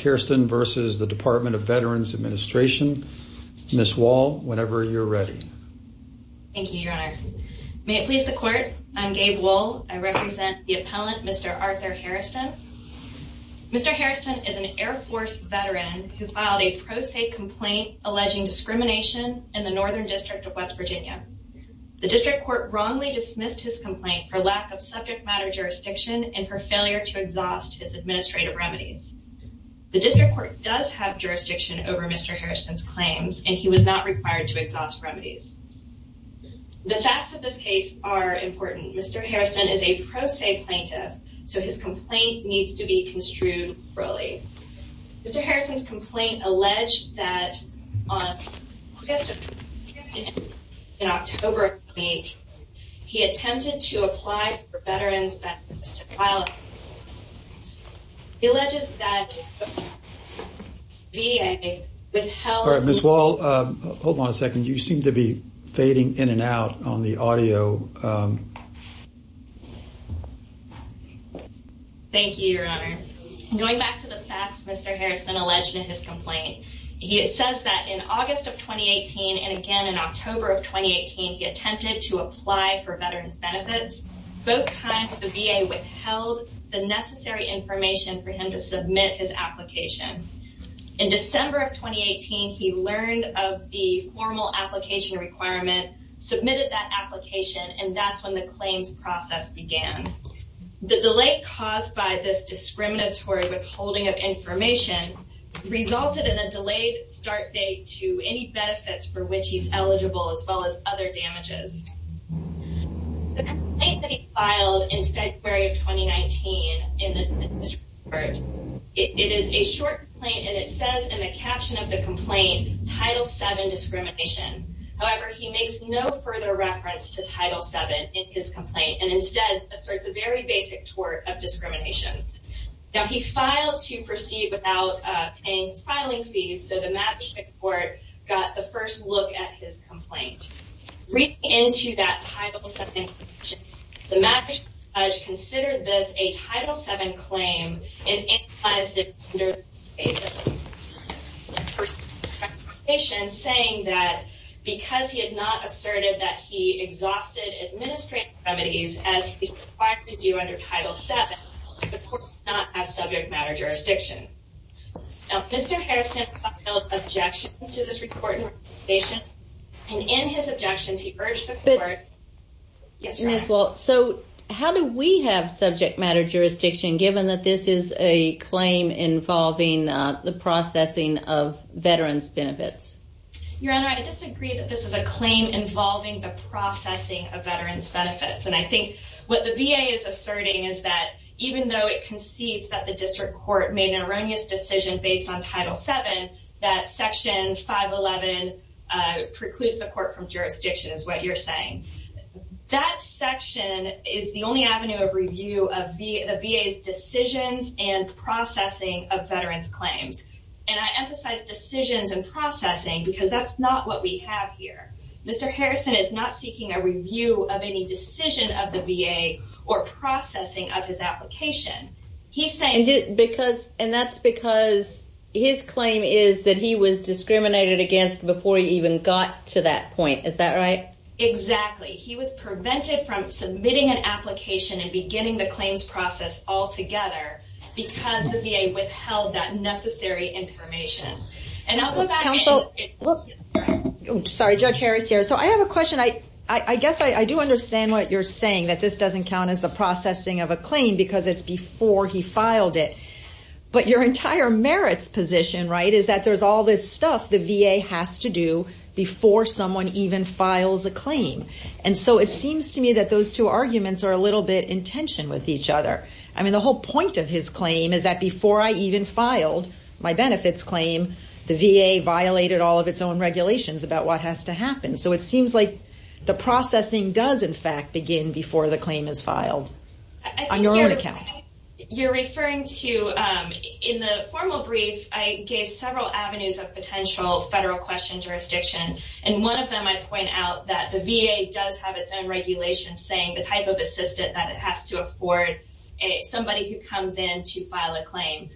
Mr. Hairston v. Department of Veterans Administration Ms. Wall, whenever you're ready. Thank you, Your Honor. May it please the Court, I'm Gabe Wall. I represent the appellant, Mr. Arthur Hairston. Mr. Hairston is an Air Force veteran who filed a pro se complaint alleging discrimination in the Northern District of West Virginia. The District Court wrongly dismissed his complaint for lack of subject matter jurisdiction and for failure to exhaust his administrative remedies. The District Court does have jurisdiction over Mr. Hairston's claims and he was not required to exhaust remedies. The facts of this case are important. Mr. Hairston is a pro se plaintiff, so his complaint needs to be construed thoroughly. Mr. Hairston's complaint alleged that on August... in October of 2008, he attempted to apply for veterans benefits to file... He alleges that... VA withheld... Ms. Wall, hold on a second. You seem to be fading in and out on the audio. Thank you, Your Honor. Going back to the facts Mr. Hairston alleged in his complaint, it says that in August of 2018 and again in October of 2018, he attempted to apply for veterans benefits. Both times the VA withheld the necessary information for him to submit his application. In December of 2018, he learned of the formal application requirement, submitted that application, and that's when the claims process began. The delay caused by this discriminatory withholding of information resulted in a delayed start date to any benefits for which he's eligible as well as other damages. The complaint that he filed in February of 2019 in the district court, it is a short complaint, and it says in the caption of the complaint, Title VII discrimination. However, he makes no further reference to Title VII in his complaint and instead asserts a very basic tort of discrimination. Now, he filed to proceed without paying his filing fees, so the Madison court got the first look at his complaint. Reading into that Title VII, the Madison judge considered this a Title VII claim and analyzed it under the basis of his application, saying that because he had not asserted that he exhausted administrative remedies as he's required to do under Title VII, the court did not have subject matter jurisdiction. Now, Mr. Harrison filed objections to this report and recommendation, and in his objections, he urged the court... Ms. Walt, so how do we have subject matter jurisdiction given that this is a claim involving the processing of veterans' benefits? Your Honor, I disagree that this is a claim involving the processing of veterans' benefits, and I think what the VA is asserting is that even though it concedes that the district court made an erroneous decision based on Title VII, that Section 511 precludes the court from jurisdiction, is what you're saying. That section is the only avenue of review of the VA's decisions and processing of veterans' claims, and I emphasize decisions and processing because that's not what we have here. Mr. Harrison is not seeking a review of any decision of the VA or processing of his application. He's saying... And that's because his claim is that he was discriminated against before he even got to that point, is that right? Exactly. He was prevented from submitting an application and beginning the claims process altogether because the VA withheld that necessary information. And I'll go back... Counsel... Sorry, Judge Harris here. So I have a question. I guess I do understand what you're saying, that this doesn't count as the processing of a claim because it's before he filed it. But your entire merits position, right, is that there's all this stuff the VA has to do before someone even files a claim. And so it seems to me that those two arguments are a little bit in tension with each other. I mean, the whole point of his claim is that before I even filed my benefits claim, the VA violated all of its own regulations about what has to happen. So it seems like the processing does, in fact, begin before the claim is filed on your own account. You're referring to... In the formal brief, I gave several avenues of potential federal question jurisdiction. And one of them I point out that the VA does have its own regulations saying the type of assistant that it has to afford somebody who comes in to file a claim.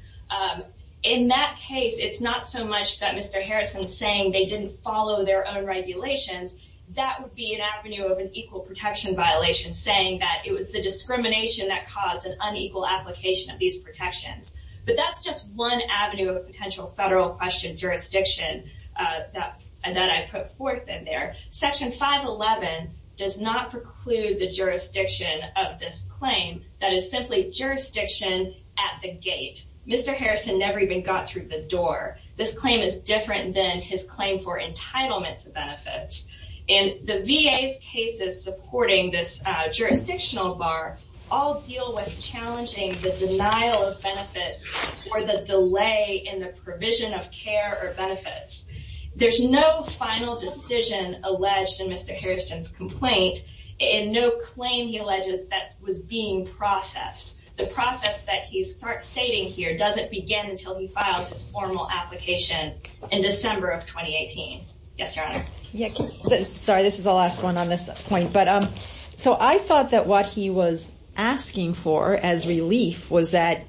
In that case, it's not so much that Mr. Harrison's saying they didn't follow their own regulations. That would be an avenue of an equal protection violation, saying that it was the discrimination that caused an unequal application of these protections. But that's just one avenue of a potential federal question jurisdiction that I put forth in there. Section 511 does not preclude the jurisdiction of this claim. That is simply jurisdiction at the gate. Mr. Harrison never even got through the door. This claim is different than his claim for entitlement to benefits. And the VA's cases supporting this jurisdictional bar all deal with challenging the denial of benefits or the delay in the provision of care or benefits. There's no final decision alleged in Mr. Harrison's complaint and no claim, he alleges, that was being processed. The process that he's stating here doesn't begin until he files his formal application in December of 2018. Yes, Your Honor. Sorry, this is the last one on this point. So I thought that what he was asking for as relief was that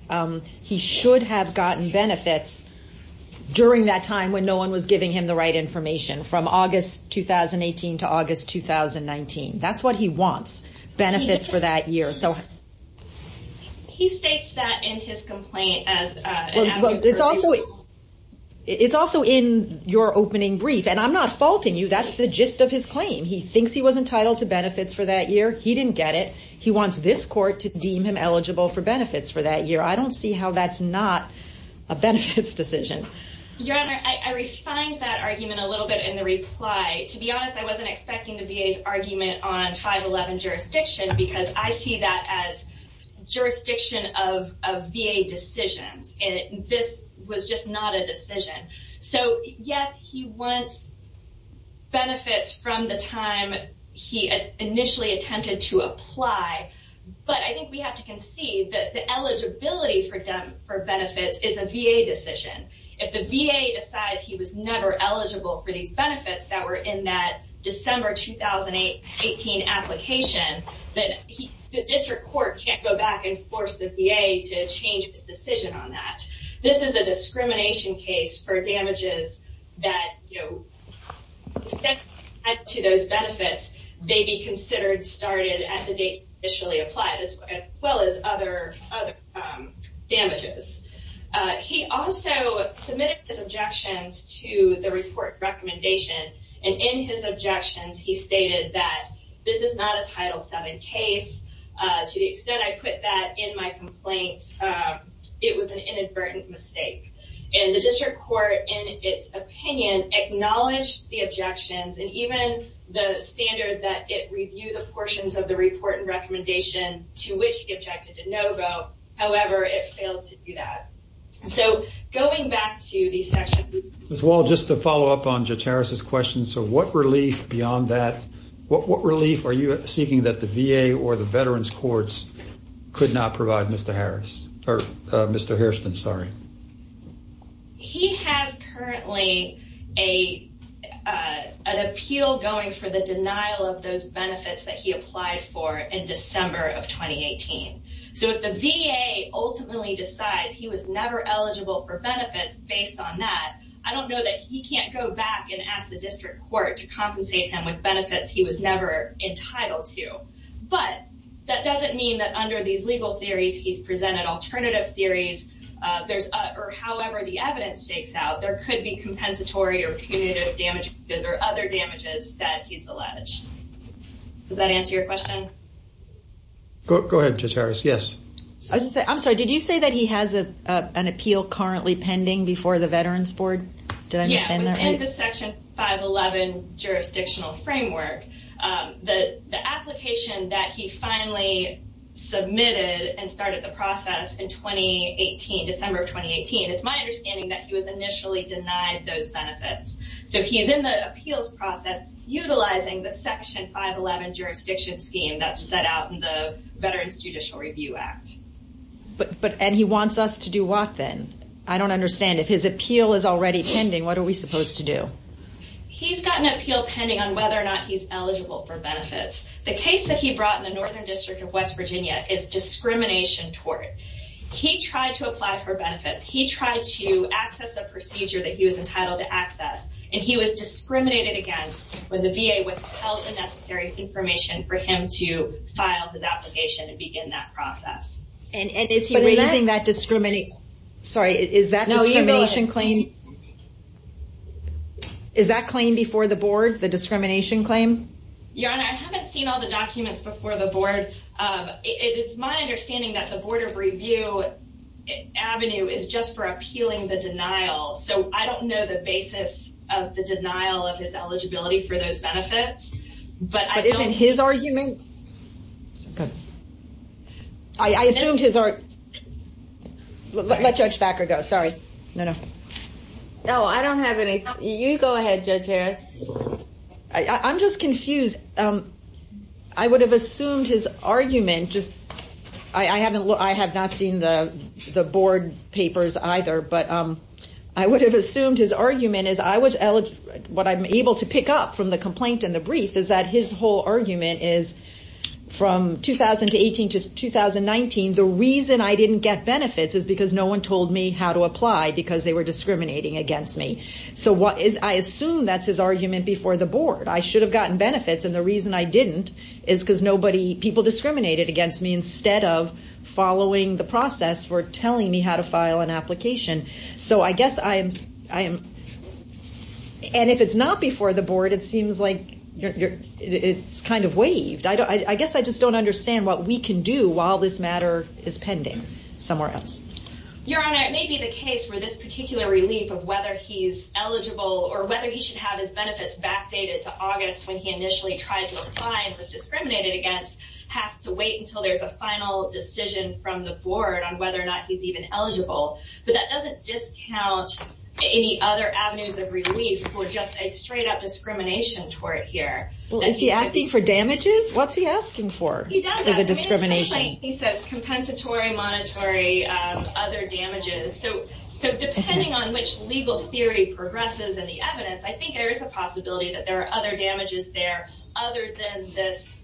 he should have gotten benefits during that time when no one was giving him the right information, from August 2018 to August 2019. That's what he wants, benefits for that year. He states that in his complaint as an avenue for... It's also in your opening brief. And I'm not faulting you, that's the gist of his claim. He thinks he was entitled to benefits for that year. He didn't get it. He wants this court to deem him eligible for benefits for that year. I don't see how that's not a benefits decision. Your Honor, I refined that argument a little bit in the reply. To be honest, I wasn't expecting the VA's argument on 511 jurisdiction because I see that as jurisdiction of VA decisions. And this was just not a decision. So yes, he wants benefits from the time he initially attempted to apply. But I think we have to concede that the eligibility for benefits is a VA decision. If the VA decides he was never eligible for these benefits that were in that December 2018 application, then the district court can't go back and force the VA to change its decision on that. This is a discrimination case for damages that, you know, to those benefits, they be considered started at the date initially applied, as well as other damages. He also submitted his objections to the report recommendation. And in his objections, he stated that this is not a Title VII case. To the extent I put that in my complaint, it was an inadvertent mistake. And the district court, in its opinion, acknowledged the objections and even the standard that it review the portions of the report and recommendation to which he objected to no vote. However, it failed to do that. So going back to the section... Ms. Wall, just to follow up on Judge Harris' question, so what relief beyond that, what relief are you seeking that the VA or the Veterans Courts could not provide Mr. Harris? Or Mr. Hairston, sorry. He has currently an appeal going for the denial of those benefits that he applied for in December of 2018. So if the VA ultimately decides he was never eligible for benefits based on that, I don't know that he can't go back and ask the district court to compensate him with benefits he was never entitled to. But that doesn't mean that under these legal theories he's presented alternative theories. Or however the evidence takes out, there could be compensatory or punitive damages or other damages that he's alleged. Does that answer your question? Go ahead, Judge Harris. Yes. I'm sorry. Did you say that he has an appeal currently pending before the Veterans Board? Did I understand that right? Yeah, within the Section 511 jurisdictional framework, the application that he finally submitted and started the process in 2018, December of 2018, it's my understanding that he was initially denied those benefits. So he's in the appeals process utilizing the Section 511 jurisdiction scheme that's set out in the Veterans Judicial Review Act. And he wants us to do what then? I don't understand. If his appeal is already pending, what are we supposed to do? He's got an appeal pending on whether or not he's eligible for benefits. The case that he brought in the Northern District of West Virginia is discrimination tort. He tried to apply for benefits. He tried to access a procedure that he was entitled to access. And he was discriminated against when the VA withheld the necessary information for him to file his application and begin that process. And is he raising that discrimination... Sorry, is that discrimination claim... Is that claim before the board, the discrimination claim? Yeah, and I haven't seen all the documents before the board. It's my understanding that the Board of Review Avenue is just for appealing the denial. So I don't know the basis of the denial of his eligibility for those benefits. But isn't his argument... I assumed his... Let Judge Thacker go, sorry. No, I don't have any... You go ahead, Judge Harris. I'm just confused. I would have assumed his argument... I have not seen the board papers either, but I would have assumed his argument is what I'm able to pick up from the complaint and the brief is that his whole argument is from 2018 to 2019, the reason I didn't get benefits is because no one told me how to apply because they were discriminating against me. So I assume that's his argument before the board. I should have gotten benefits, and the reason I didn't is because people discriminated against me instead of following the process for telling me how to file an application. So I guess I am... And if it's not before the board, it seems like it's kind of waived. I guess I just don't understand what we can do while this matter is pending somewhere else. Your Honor, it may be the case where this particular relief of whether he's eligible or whether he should have his benefits backdated to August when he initially tried to apply and was discriminated against has to wait until there's a final decision from the board on whether or not he's even eligible. But that doesn't discount any other avenues of relief for just a straight-up discrimination tort here. Well, is he asking for damages? What's he asking for for the discrimination? He does ask. He says compensatory, monetary, other damages. So depending on which legal theory progresses in the evidence, I think there is a possibility that there are other damages there other than this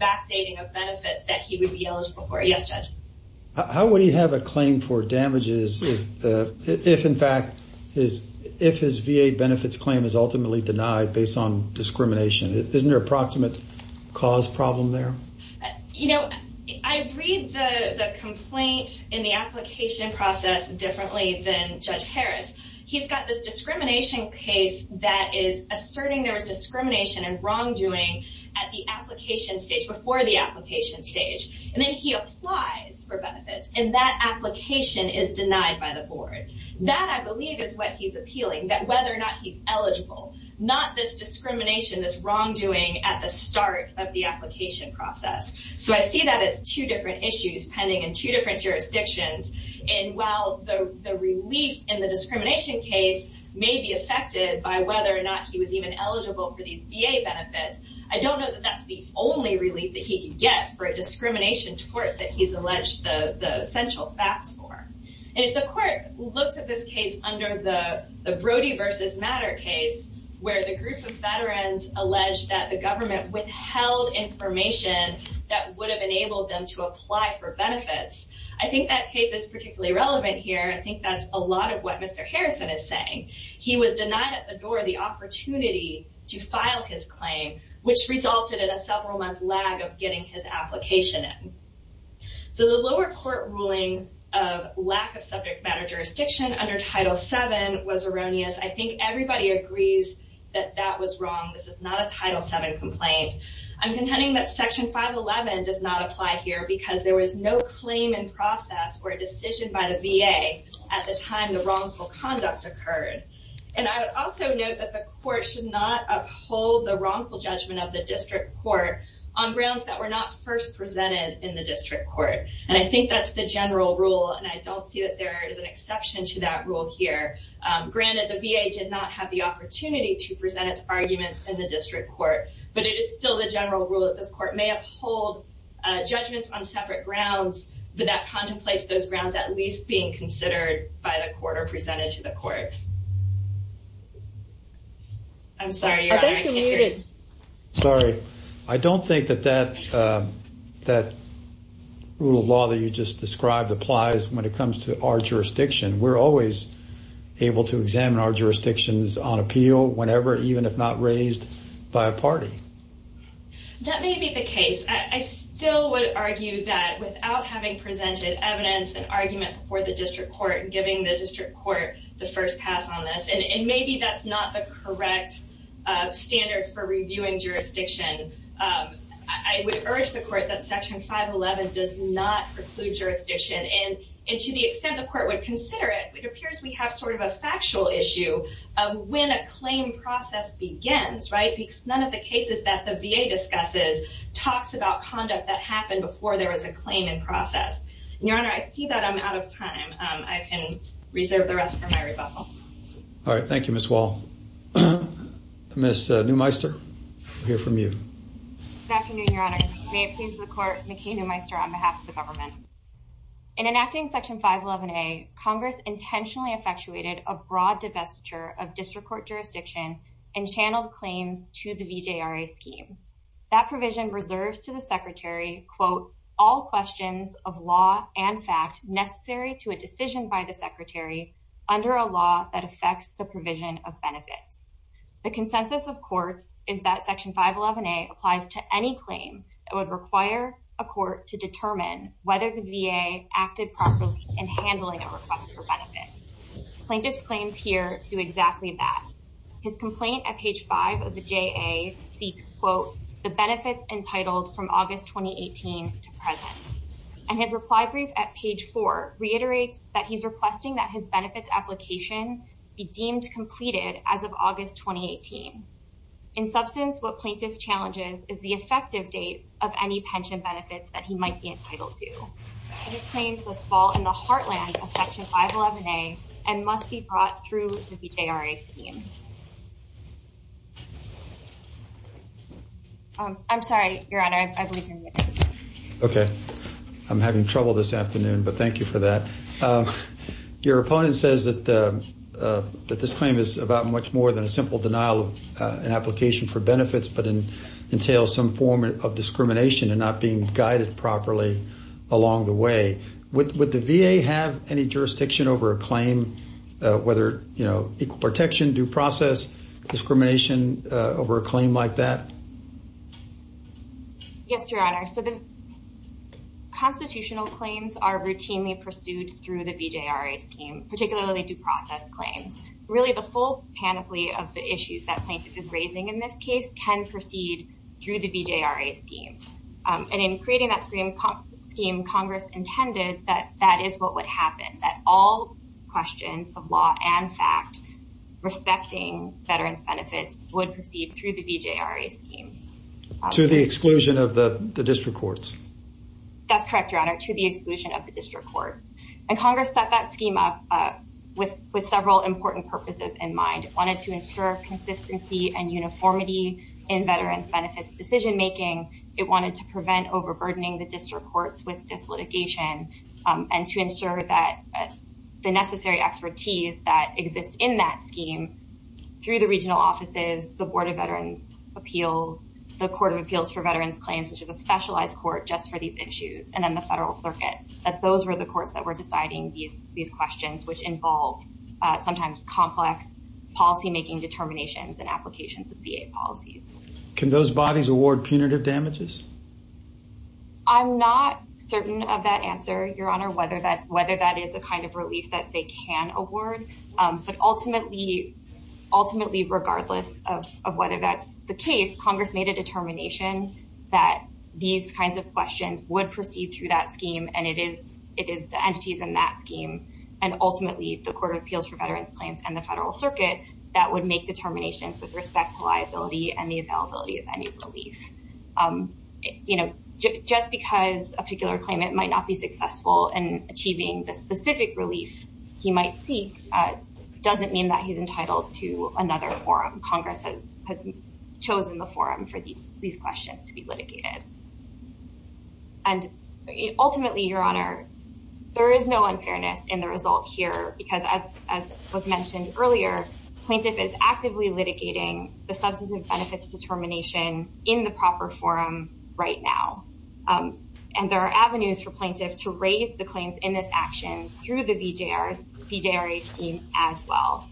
backdating of benefits that he would be eligible for. Yes, Judge? How would he have a claim for damages if, in fact, his VA benefits claim is ultimately denied based on discrimination? Isn't there an approximate cause problem there? You know, I read the complaint in the application process differently than Judge Harris. He's got this discrimination case that is asserting there was discrimination and wrongdoing at the application stage, before the application stage. And then he applies for benefits. And that application is denied by the board. That, I believe, is what he's appealing, that whether or not he's eligible. Not this discrimination, this wrongdoing at the start of the application process. So I see that as two different issues pending in two different jurisdictions. And while the relief in the discrimination case may be affected by whether or not he was even eligible for these VA benefits, I don't know that that's the only relief that he can get for a discrimination tort that he's alleged the essential facts for. And if the court looks at this case under the Brody v. Matter case, where the group of veterans allege that the government withheld information that would have enabled them to apply for benefits, I think that case is particularly relevant here. I think that's a lot of what Mr. Harrison is saying. He was denied at the door the opportunity to file his claim, which resulted in a several-month lag of getting his application in. So the lower court ruling of lack of subject matter jurisdiction under Title VII was erroneous. I think everybody agrees that that was wrong. This is not a Title VII complaint. I'm contending that Section 511 does not apply here because there was no claim in process or a decision by the VA at the time the wrongful conduct occurred. And I would also note that the court should not uphold the wrongful judgment of the district court on grounds that were not first presented in the district court. And I think that's the general rule, and I don't see that there is an exception to that rule here. Granted, the VA did not have the opportunity to present its arguments in the district court, but it is still the general rule that this court may uphold judgments on separate grounds but that contemplates those grounds at least being considered by the court or presented to the court. I'm sorry, Your Honor, I can't hear you. Sorry. I don't think that that rule of law that you just described applies when it comes to our jurisdiction. We're always able to examine our jurisdictions on appeal whenever, even if not raised by a party. That may be the case. I still would argue that without having presented evidence and argument before the district court and giving the district court the first pass on this, and maybe that's not the correct standard for reviewing jurisdiction, I would urge the court that Section 511 does not preclude jurisdiction. And to the extent the court would consider it, it appears we have sort of a factual issue of when a claim process begins, right? Because none of the cases that the VA discusses talks about conduct that happened before there was a claim in process. Your Honor, I see that I'm out of time. I can reserve the rest for my rebuttal. All right, thank you, Ms. Wall. Ms. Neumeister, we'll hear from you. Good afternoon, Your Honor. May it please the court, McKay Neumeister on behalf of the government. In enacting Section 511A, Congress intentionally effectuated a broad divestiture of district court jurisdiction and channeled claims to the VJRA scheme. That provision reserves to the Secretary, all questions of law and fact necessary to a decision by the Secretary under a law that affects the provision of benefits. The consensus of courts is that Section 511A applies to any claim that would require a court to determine whether the VA acted properly in handling a request for benefits. Plaintiff's claims here do exactly that. His complaint at page 5 of the JA seeks, quote, the benefits entitled from August 2018 to present. And his reply brief at page 4 reiterates that he's requesting that his benefits application be deemed completed as of August 2018. In substance, what plaintiff challenges is the effective date of any pension benefits that he might be entitled to. His claims must fall in the heartland of Section 511A and must be brought through the VJRA scheme. I'm sorry, Your Honor, I believe you're muted. Okay, I'm having trouble this afternoon, but thank you for that. Your opponent says that this claim is about much more than a simple denial of an application for benefits but entails some form of discrimination and not being guided properly along the way. Would the VA have any jurisdiction over a claim, whether, you know, equal protection, due process, discrimination over a claim like that? Yes, Your Honor, so the constitutional claims are routinely pursued through the VJRA scheme, particularly due process claims. Really, the full panoply of the issues that plaintiff is raising in this case can proceed through the VJRA scheme. And in creating that scheme, Congress intended that that is what would happen, that all questions of law and fact respecting veterans' benefits would proceed through the VJRA scheme. To the exclusion of the district courts? That's correct, Your Honor, to the exclusion of the district courts. And Congress set that scheme up with several important purposes in mind. It wanted to ensure consistency and uniformity in veterans' benefits decision-making. It wanted to prevent overburdening the district courts with this litigation and to ensure that the necessary expertise that exists in that scheme through the regional offices, the Board of Veterans' Appeals, the Court of Appeals for Veterans' Claims, which is a specialized court just for these issues, and then the Federal Circuit, that those were the courts that were deciding these questions, which involve sometimes complex policymaking determinations and applications of VA policies. Can those bodies award punitive damages? I'm not certain of that answer, Your Honor, whether that is a kind of relief that they can award. But ultimately, regardless of whether that's the case, Congress made a determination that these kinds of questions would proceed through that scheme and it is the entities in that scheme and ultimately the Court of Appeals for Veterans' Claims and the Federal Circuit that would make determinations with respect to liability and the availability of any relief. You know, just because a particular claimant might not be successful in achieving the specific relief he might seek doesn't mean that he's entitled to another forum. Congress has chosen the forum for these questions to be litigated. And ultimately, Your Honor, there is no unfairness in the result here because as was mentioned earlier, plaintiff is actively litigating the substance and benefits determination in the proper forum right now. And there are avenues for plaintiffs to raise the claims in this action through the BJRA scheme as well,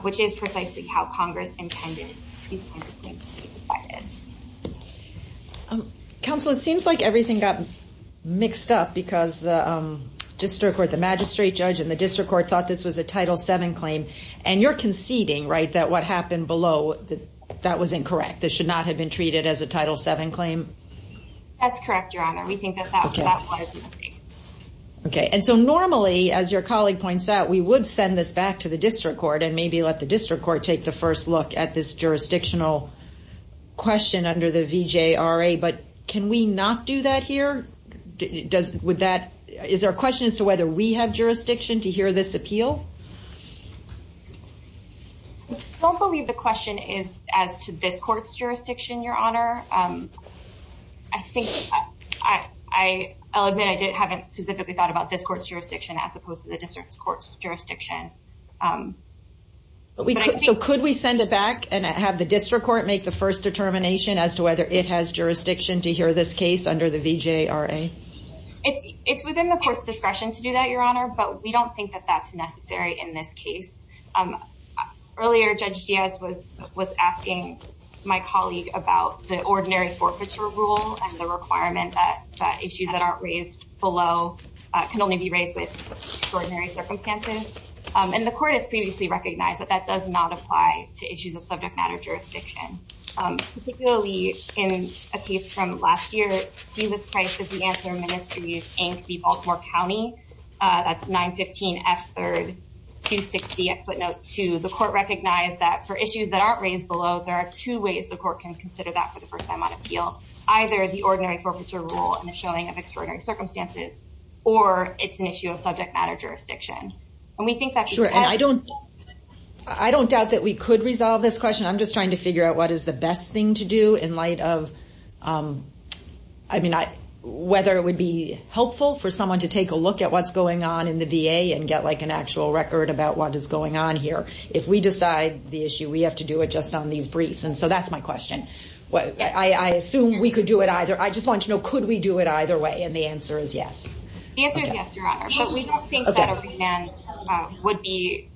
which is precisely how Congress intended these kinds of claims to be provided. Counsel, it seems like everything got mixed up because the district court, the magistrate judge, and the district court thought this was a Title VII claim. And you're conceding, right, that what happened below, that that was incorrect, this should not have been treated as a Title VII claim? That's correct, Your Honor. We think that that was a mistake. Okay. And so normally, as your colleague points out, we would send this back to the district court and maybe let the district court take the first look at this jurisdictional question under the BJRA, but can we not do that here? Is there a question as to whether we have jurisdiction to hear this appeal? I don't believe the question is as to this court's jurisdiction, Your Honor. I think I'll admit I haven't specifically thought about this court's jurisdiction as opposed to the district court's jurisdiction. So could we send it back and have the district court make the first determination as to whether it has jurisdiction to hear this case under the BJRA? It's within the court's discretion to do that, Your Honor, but we don't think that that's necessary in this case. Earlier, Judge Diaz was asking my colleague about the ordinary forfeiture rule and the requirement that issues that aren't raised below can only be raised with extraordinary circumstances, and the court has previously recognized that that does not apply to issues of subject matter jurisdiction, particularly in a case from last year, Jesus Christ of the Antler Ministries, Inc., v. Baltimore County. That's 915 F. 3rd 260 at footnote 2. The court recognized that for issues that aren't raised below, there are two ways the court can consider that for the first time on appeal, either the ordinary forfeiture rule and the showing of extraordinary circumstances, or it's an issue of subject matter jurisdiction. And we think that because... Sure, and I don't doubt that we could resolve this question. I'm just trying to figure out what is the best thing to do in light of, I mean, whether it would be helpful for someone to take a look at what's going on in the VA and get, like, an actual record about what is going on here. If we decide the issue, we have to do it just on these briefs. And so that's my question. I assume we could do it either. I just want to know, could we do it either way? And the answer is yes. The answer is yes, Your Honor. But we don't think that a remand would be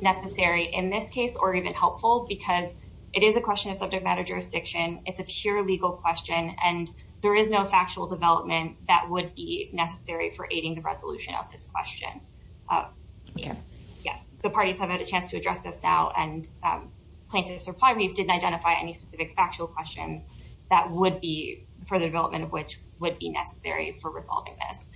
necessary in this case or even helpful because it is a question of subject matter jurisdiction. It's a pure legal question, and there is no factual development that would be necessary for aiding the resolution of this question. Okay. Yes. The parties have had a chance to address this now, and plaintiffs are probably didn't identify any specific factual questions that would be for the development of which would be necessary for resolving this.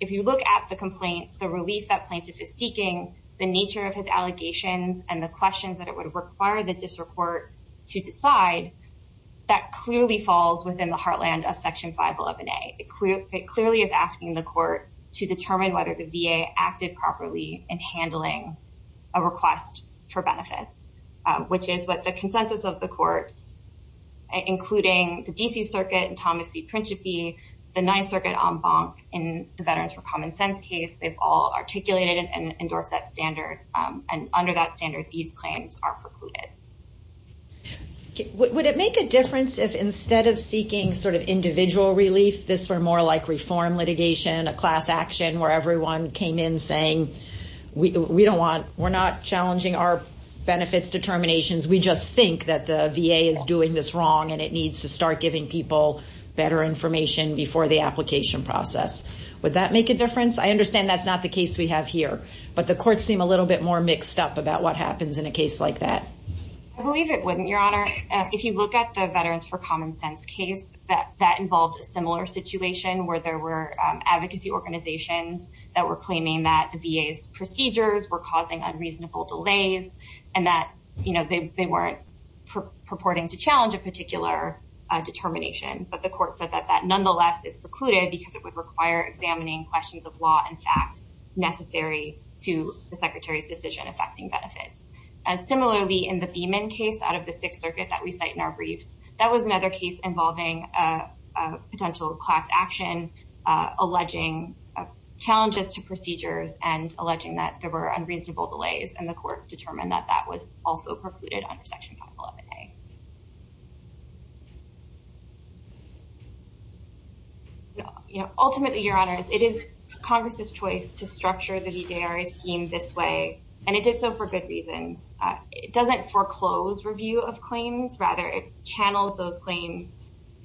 If you look at the complaint, the relief that plaintiff is seeking, the nature of his allegations, and the questions that it would require the district court to decide, that clearly falls within the heartland of Section 511A. It clearly is asking the court to determine whether the VA acted properly in handling a request for benefits, which is what the consensus of the courts, including the D.C. Circuit and Thomas v. Principe, the Ninth Circuit en banc in the Veterans for Common Sense case, they've all articulated and endorsed that standard, and under that standard, these claims are precluded. Would it make a difference if instead of seeking sort of individual relief, this were more like reform litigation, a class action where everyone came in saying, we're not challenging our benefits determinations, we just think that the VA is doing this wrong and it needs to start giving people better information before the application process. Would that make a difference? I understand that's not the case we have here, but the courts seem a little bit more mixed up about what happens in a case like that. I believe it wouldn't, Your Honor. If you look at the Veterans for Common Sense case, that involved a similar situation where there were advocacy organizations that were claiming that the VA's procedures were causing unreasonable delays and that they weren't purporting to challenge a particular determination, but the court said that that nonetheless is precluded because it would require examining questions of law and fact necessary to the Secretary's decision affecting benefits. Similarly, in the Beeman case out of the Sixth Circuit that we cite in our briefs, that was another case involving a potential class action alleging challenges to procedures and alleging that there were unreasonable delays and the court determined that that was also precluded under Section 511A. Ultimately, Your Honors, it is Congress's choice to structure the VJRA scheme this way and it did so for good reasons. It doesn't foreclose review of claims, rather it channels those claims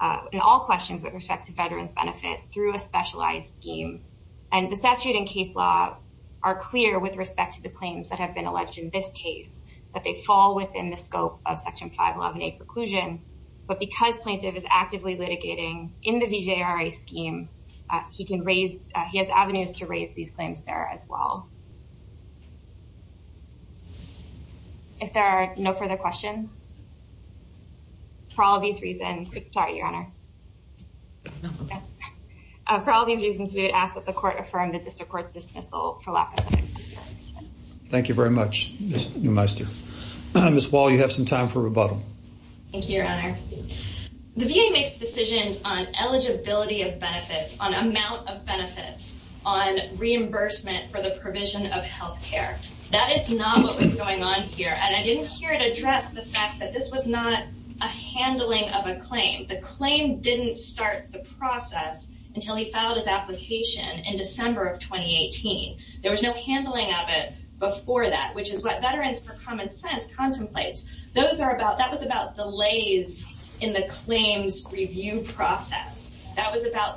and all questions with respect to veterans' benefits through a specialized scheme and the statute and case law are clear with respect to the claims that have been alleged in this case, that they fall within the scope of Section 511A preclusion, but because plaintiff is actively litigating in the VJRA scheme, he has avenues to raise these claims there as well. If there are no further questions, for all these reasons... Sorry, Your Honor. For all these reasons, we would ask that the court affirm the district court's dismissal for lack of time. Thank you very much, Ms. Neumeister. Ms. Wall, you have some time for rebuttal. Thank you, Your Honor. The VA makes decisions on eligibility of benefits, on amount of benefits, on reimbursement for the provision of health care. That is not what was going on here, and I didn't hear it address the fact that this was not a handling of a claim. The claim didn't start the process until he filed his application in December of 2018. There was no handling of it before that, which is what Veterans for Common Sense contemplates. That was about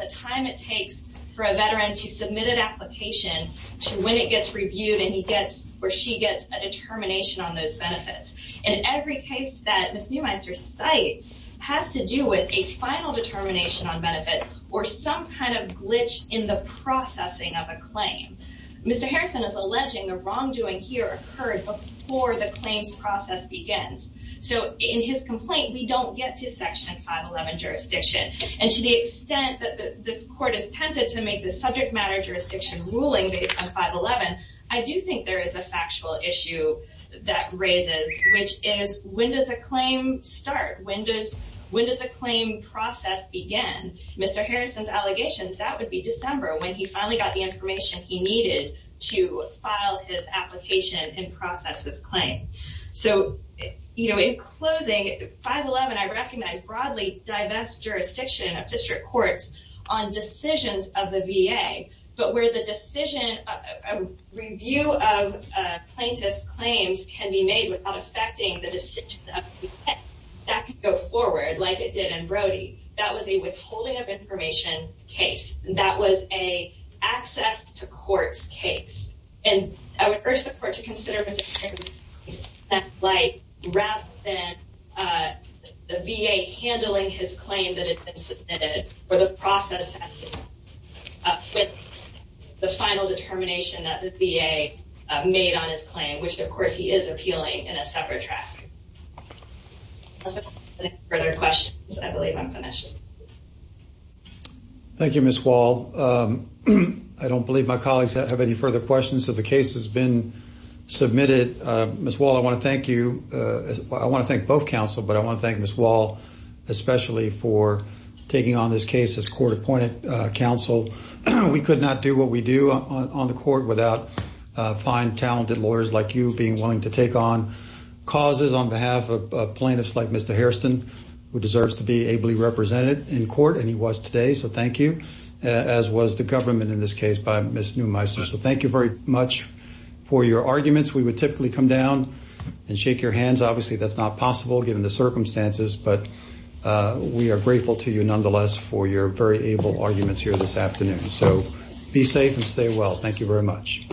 the time it takes for a veteran to submit an application to when it gets reviewed where she gets a determination on those benefits. In every case that Ms. Neumeister cites has to do with a final determination on benefits or some kind of glitch in the processing of a claim. Mr. Harrison is alleging the wrongdoing here occurred before the claims process begins. So in his complaint, we don't get to Section 511 jurisdiction. And to the extent that this court is tempted to make the subject matter jurisdiction ruling based on 511, I do think there is a factual issue that raises, which is, when does a claim start? When does a claim process begin? Mr. Harrison's allegations, that would be December, when he finally got the information he needed to file his application and process his claim. So, you know, in closing, 511, I recognize, broadly divests jurisdiction of district courts on decisions of the VA. But where the decision, review of plaintiff's claims can be made without affecting the decision of the VA, that could go forward, like it did in Brody. That was a withholding of information case. That was an access to courts case. And I would urge the court to consider jurisdictions that, like, rather than the VA handling his claim that had been submitted, or the process ending with the final determination that the VA made on his claim, which, of course, he is appealing in a separate track. If there are no further questions, I believe I'm finished. Thank you, Ms. Wall. I don't believe my colleagues have any further questions, so the case has been submitted. Ms. Wall, I want to thank you. I want to thank both counsel, but I want to thank Ms. Wall, especially for taking on this case as court-appointed counsel. We could not do what we do on the court without fine, talented lawyers like you being willing to take on causes on behalf of plaintiffs like Mr. Hairston, who deserves to be ably represented in court, and he was today. So thank you, as was the government in this case by Ms. Neumeister. So thank you very much for your arguments. We would typically come down and shake your hands. Obviously, that's not possible given the circumstances, but we are grateful to you, nonetheless, for your very able arguments here this afternoon. So be safe and stay well. Thank you very much.